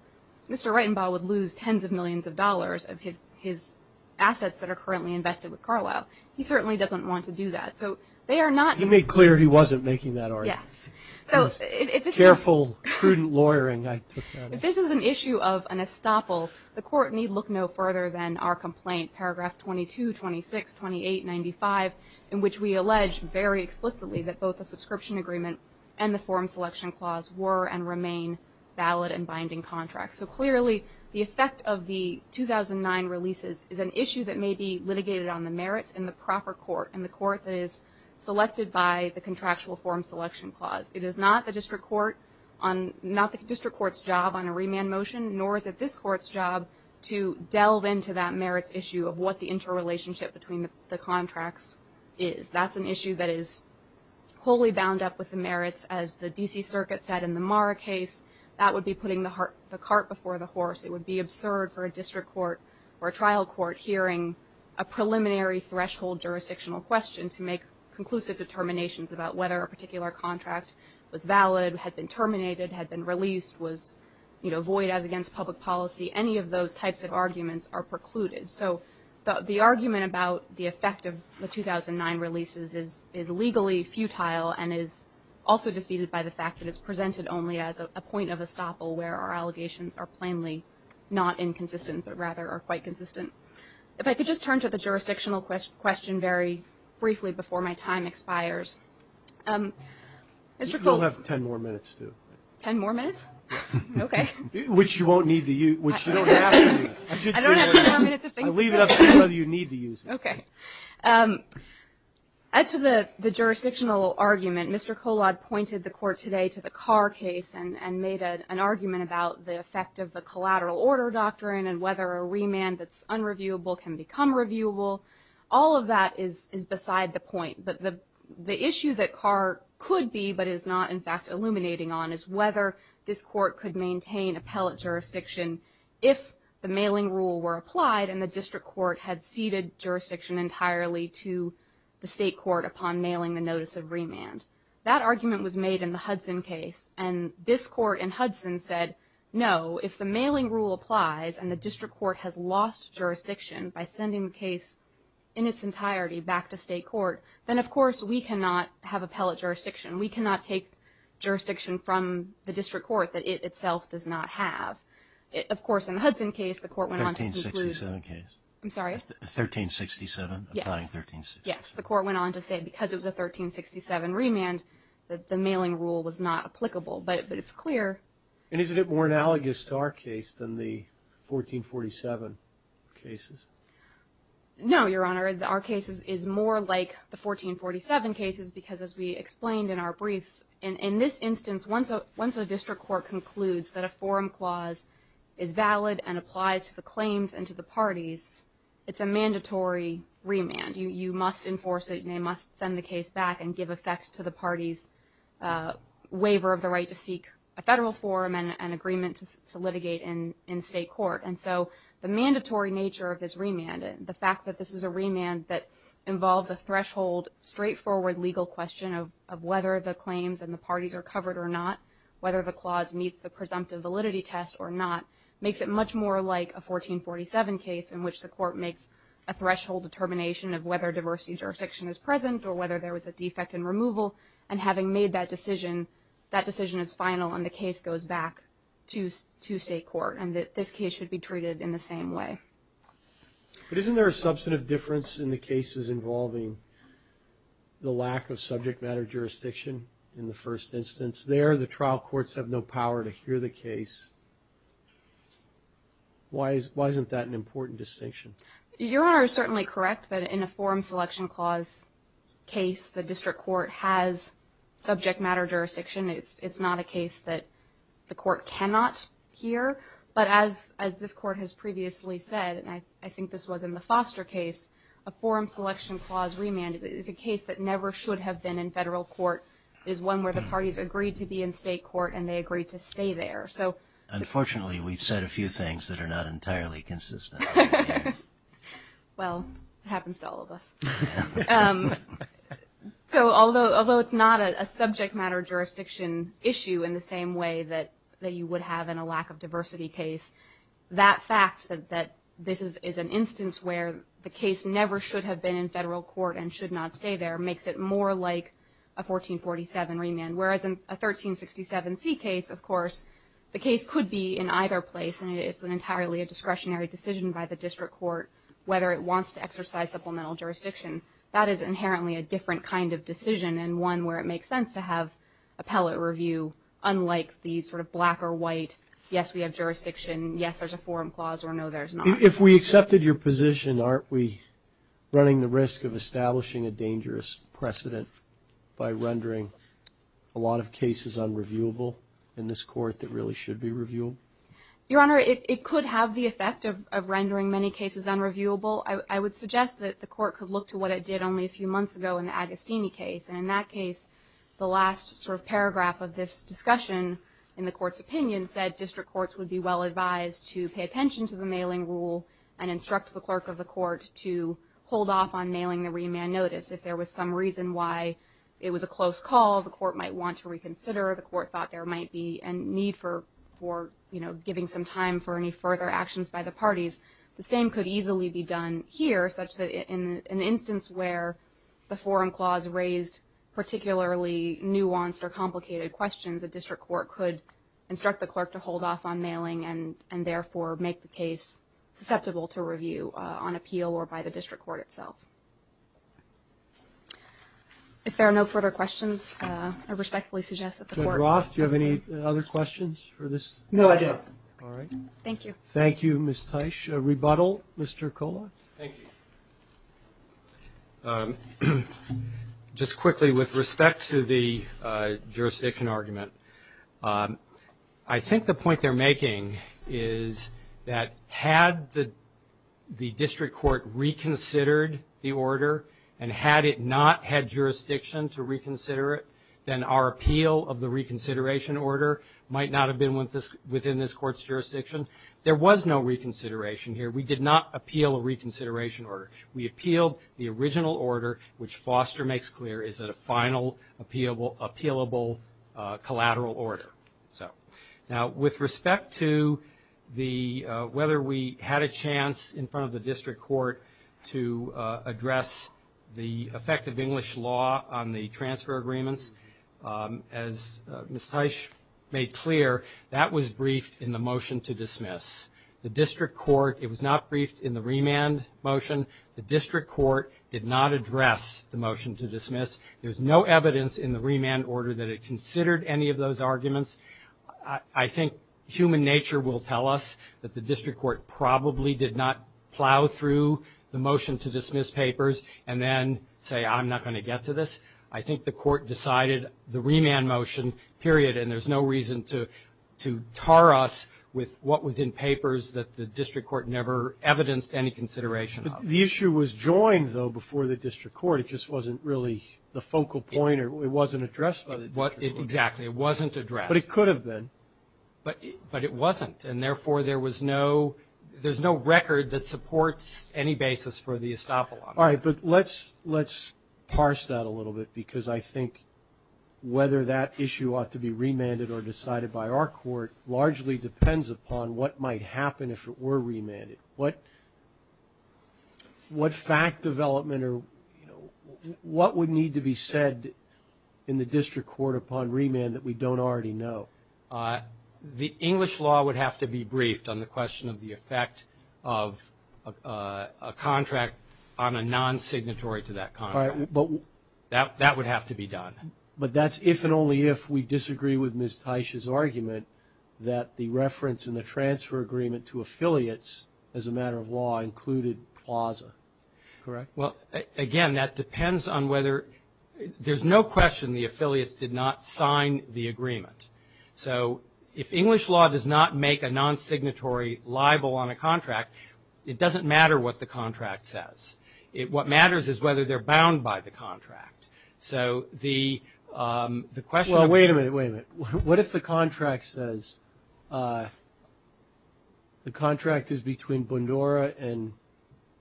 Mr. Reitenbaugh would lose tens of millions of dollars of his assets that are currently invested with Carlisle. He certainly doesn't want to do that. He made clear he wasn't making that argument. Yes. Careful, prudent lawyering. If this is an issue of an estoppel, the court need look no further than our complaint, paragraphs 22, 26, 28, 95, in which we allege very explicitly that both the subscription agreement and the form selection clause were and remain valid and binding contracts. So clearly, the effect of the 2009 releases is an issue that may be litigated on the merits in the proper court, in the court that is selected by the contractual form selection clause. It is not the district court's job on a remand motion, nor is it this court's job to delve into that merits issue of what the interrelationship between the contracts is. That's an issue that is wholly bound up with the merits. As the D.C. Circuit said in the Marra case, that would be putting the cart before the horse. It would be absurd for a district court or a trial court hearing a preliminary threshold jurisdictional question to make conclusive determinations about whether a particular contract was valid, had been terminated, had been released, was void as against public policy. Any of those types of arguments are precluded. So the argument about the effect of the 2009 releases is legally futile and is also defeated by the fact that it's presented only as a point of estoppel where our allegations are plainly not inconsistent, but rather are quite consistent. If I could just turn to the jurisdictional question very briefly before my time expires. Mr. Cole. You'll have ten more minutes, too. Ten more minutes? Okay. Which you won't need to use, which you don't have to use. I don't have ten more minutes to think about it. I leave it up to you whether you need to use it. Okay. As to the jurisdictional argument, Mr. Colad pointed the court today to the Carr case and made an argument about the effect of the collateral order doctrine and whether a remand that's unreviewable can become reviewable. All of that is beside the point, but the issue that Carr could be but is not, in fact, illuminating on is whether this court could maintain appellate jurisdiction if the mailing rule were applied and the district court had ceded jurisdiction entirely to the state court upon mailing the notice of remand. That argument was made in the Hudson case, and this court in Hudson said, no, if the mailing rule applies and the district court has lost jurisdiction by sending the case in its entirety back to state court, then, of course, we cannot have appellate jurisdiction. We cannot take jurisdiction from the district court that it itself does not have. Of course, in the Hudson case, the court went on to conclude. 1367 case. I'm sorry? 1367. Yes. Applying 1367. Yes. The court went on to say because it was a 1367 remand that the mailing rule was not applicable, but it's clear. And isn't it more analogous to our case than the 1447 cases? No, Your Honor. Our case is more like the 1447 cases because, as we explained in our brief, in this instance, once a district court concludes that a forum clause is valid and applies to the claims and to the parties, it's a mandatory remand. You must enforce it, and they must send the case back and give effect to the party's waiver of the right to seek a federal forum and an agreement to litigate in state court. And so the mandatory nature of this remand and the fact that this is a remand that involves a threshold, straightforward legal question of whether the claims and the parties are covered or not, whether the clause meets the presumptive validity test or not, makes it much more like a 1447 case in which the court makes a threshold determination of whether diversity jurisdiction is present or whether there was a defect in removal. And having made that decision, that decision is final and the case goes back to state court and that this case should be treated in the same way. But isn't there a substantive difference in the cases involving the lack of subject matter jurisdiction in the first instance? There, the trial courts have no power to hear the case. Why isn't that an important distinction? Your Honor is certainly correct that in a forum selection clause case, the district court has subject matter jurisdiction. It's not a case that the court cannot hear. But as this court has previously said, and I think this was in the Foster case, a forum selection clause remand is a case that never should have been in federal court. It is one where the parties agreed to be in state court and they agreed to stay there. Unfortunately, we've said a few things that are not entirely consistent. Well, it happens to all of us. So although it's not a subject matter jurisdiction issue in the same way that you would have in a lack of diversity case, that fact that this is an instance where the case never should have been in federal court and should not stay there makes it more like a 1447 remand. Whereas in a 1367C case, of course, the case could be in either place and it's entirely a discretionary decision by the district court whether it wants to exercise supplemental jurisdiction. That is inherently a different kind of decision and one where it makes sense to have appellate review unlike the sort of black or white, yes, we have jurisdiction, yes, there's a forum clause or no, there's not. If we accepted your position, aren't we running the risk of establishing a dangerous precedent by rendering a lot of cases unreviewable in this court that really should be reviewable? Your Honor, it could have the effect of rendering many cases unreviewable. I would suggest that the court could look to what it did only a few months ago in the Agostini case. In that case, the last sort of paragraph of this discussion in the court's opinion said district courts would be well advised to pay attention to the mailing rule and instruct the clerk of the court to hold off on mailing the remand notice. If there was some reason why it was a close call, the court might want to reconsider, the court thought there might be a need for giving some time for any further actions by the parties. The same could easily be done here such that in an instance where the forum clause raised particularly nuanced or complicated questions, a district court could instruct the clerk to hold off on mailing and therefore make the case susceptible to review on appeal or by the district court itself. If there are no further questions, I respectfully suggest that the court. Judge Roth, do you have any other questions for this? No, I don't. All right. Thank you. Thank you, Ms. Teich. A rebuttal, Mr. Kollox. Thank you. Just quickly with respect to the jurisdiction argument, I think the point they're making is that had the district court reconsidered the order and had it not had jurisdiction to reconsider it, then our appeal of the reconsideration order might not have been within this court's jurisdiction. There was no reconsideration here. We did not appeal a reconsideration order. We appealed the original order, which Foster makes clear is a final appealable collateral order. Now, with respect to whether we had a chance in front of the district court to address the effect of English law on the transfer agreements, as Ms. Teich made clear, that was briefed in the motion to dismiss. The district court, it was not briefed in the remand motion. The district court did not address the motion to dismiss. There's no evidence in the remand order that it considered any of those arguments. I think human nature will tell us that the district court probably did not plow through the motion to dismiss papers and then say, I'm not going to get to this. I think the court decided the remand motion, period, and there's no reason to tar us with what was in papers that the district court never evidenced any consideration of. The issue was joined, though, before the district court. It just wasn't really the focal point or it wasn't addressed by the district court. Exactly. It wasn't addressed. But it could have been. But it wasn't. And, therefore, there was no – there's no record that supports any basis for the estoppel on that. All right. But let's parse that a little bit because I think whether that issue ought to be remanded or decided by our court largely depends upon what might happen if it were remanded. What fact development or, you know, what would need to be said in the district court upon remand that we don't already know? The English law would have to be briefed on the question of the effect of a contract on a non-signatory to that contract. All right. That would have to be done. But that's if and only if we disagree with Ms. Teich's argument that the reference and the transfer agreement to affiliates as a matter of law included plaza. Correct. Well, again, that depends on whether – there's no question the affiliates did not sign the agreement. So if English law does not make a non-signatory libel on a contract, it doesn't matter what the contract says. What matters is whether they're bound by the contract. So the question of – Wait a minute. What if the contract says – the contract is between Bundura and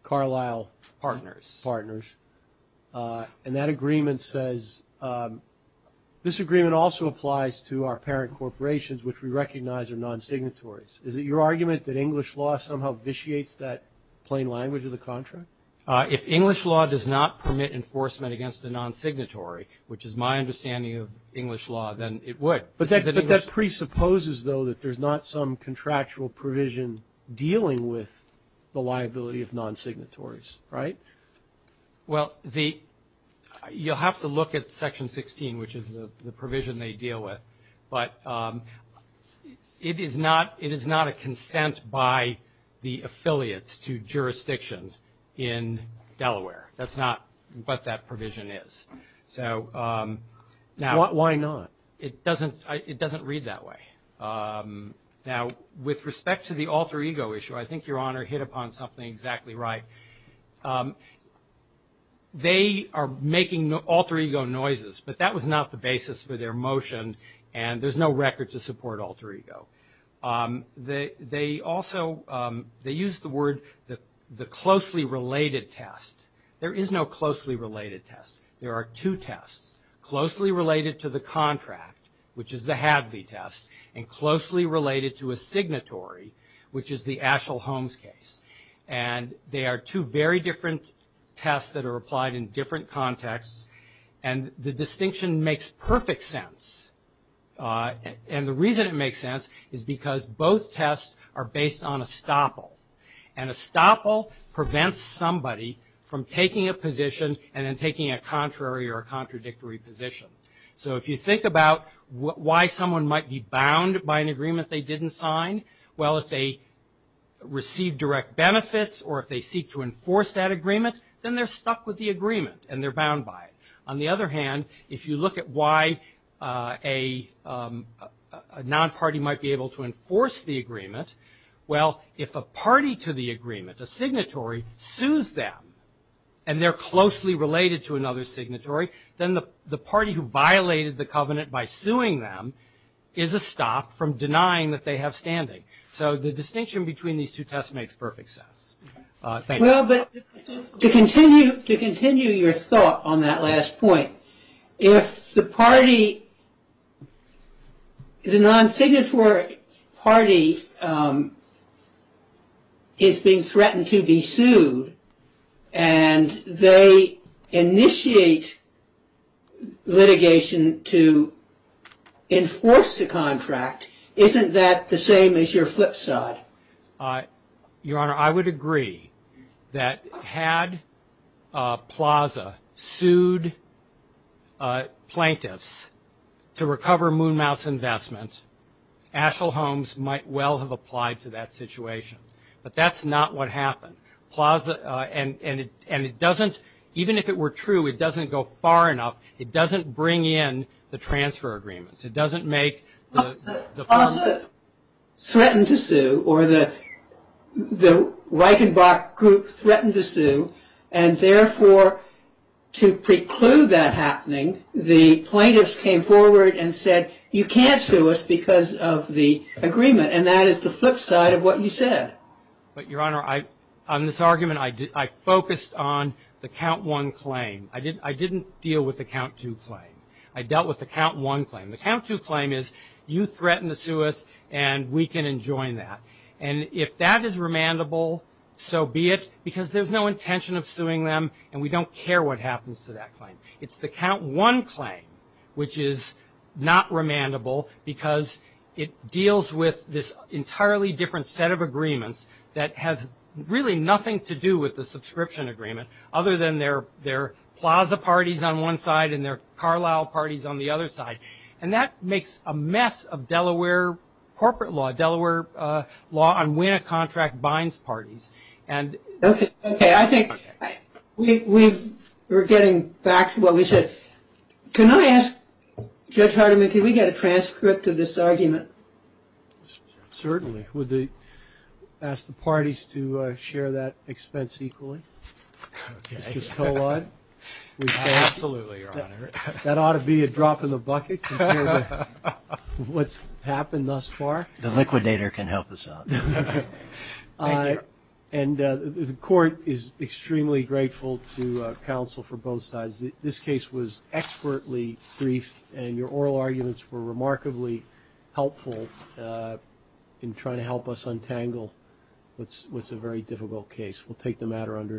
Carlisle? Partners. Partners. And that agreement says – this agreement also applies to our parent corporations, which we recognize are non-signatories. Is it your argument that English law somehow vitiates that plain language of the contract? If English law does not permit enforcement against a non-signatory, which is my understanding of English law, then it would. But that presupposes, though, that there's not some contractual provision dealing with the liability of non-signatories, right? Well, the – you'll have to look at Section 16, which is the provision they deal with. But it is not a consent by the affiliates to jurisdiction in Delaware. That's not what that provision is. So now – Why not? It doesn't – it doesn't read that way. Now, with respect to the alter ego issue, I think Your Honor hit upon something exactly right. They are making alter ego noises, but that was not the basis for their motion, and there's no record to support alter ego. They also – they use the word the closely related test. There is no closely related test. There are two tests, closely related to the contract, which is the Hadley test, and closely related to a signatory, which is the Aschel-Holmes case. And they are two very different tests that are applied in different contexts, and the distinction makes perfect sense. And the reason it makes sense is because both tests are based on estoppel. And estoppel prevents somebody from taking a position and then taking a contrary or contradictory position. So if you think about why someone might be bound by an agreement they didn't sign, well, if they receive direct benefits or if they seek to enforce that agreement, then they're stuck with the agreement and they're bound by it. On the other hand, if you look at why a non-party might be able to enforce the agreement, well, if a party to the agreement, a signatory, sues them and they're closely related to another signatory, then the party who violated the covenant by suing them is estopped from denying that they have standing. So the distinction between these two tests makes perfect sense. Thank you. Well, but to continue your thought on that last point, if the party, the non-signatory party is being threatened to be sued and they initiate litigation to enforce the contract, isn't that the same as your flip side? Your Honor, I would agree that had PLAZA sued plaintiffs to recover Moon Mouse investment, Asheville Homes might well have applied to that situation. But that's not what happened. And it doesn't, even if it were true, it doesn't go far enough. It doesn't bring in the transfer agreements. PLAZA threatened to sue or the Reichenbach group threatened to sue, and therefore to preclude that happening, the plaintiffs came forward and said, you can't sue us because of the agreement, and that is the flip side of what you said. But, Your Honor, on this argument I focused on the count one claim. I didn't deal with the count two claim. I dealt with the count one claim. The count two claim is you threatened to sue us and we can enjoy that. And if that is remandable, so be it, because there's no intention of suing them and we don't care what happens to that claim. It's the count one claim, which is not remandable, because it deals with this entirely different set of agreements that has really nothing to do with the subscription agreement, other than their PLAZA parties on one side and their Carlisle parties on the other side. And that makes a mess of Delaware corporate law, Delaware law on when a contract binds parties. Okay. I think we're getting back to what we said. Can I ask Judge Hardiman, can we get a transcript of this argument? Certainly. Would you ask the parties to share that expense equally? Okay. Absolutely, Your Honor. That ought to be a drop in the bucket compared to what's happened thus far. The liquidator can help us out. And the court is extremely grateful to counsel for both sides. This case was expertly briefed and your oral arguments were remarkably helpful in trying to help us untangle what's a very difficult case. We'll take the matter under advice.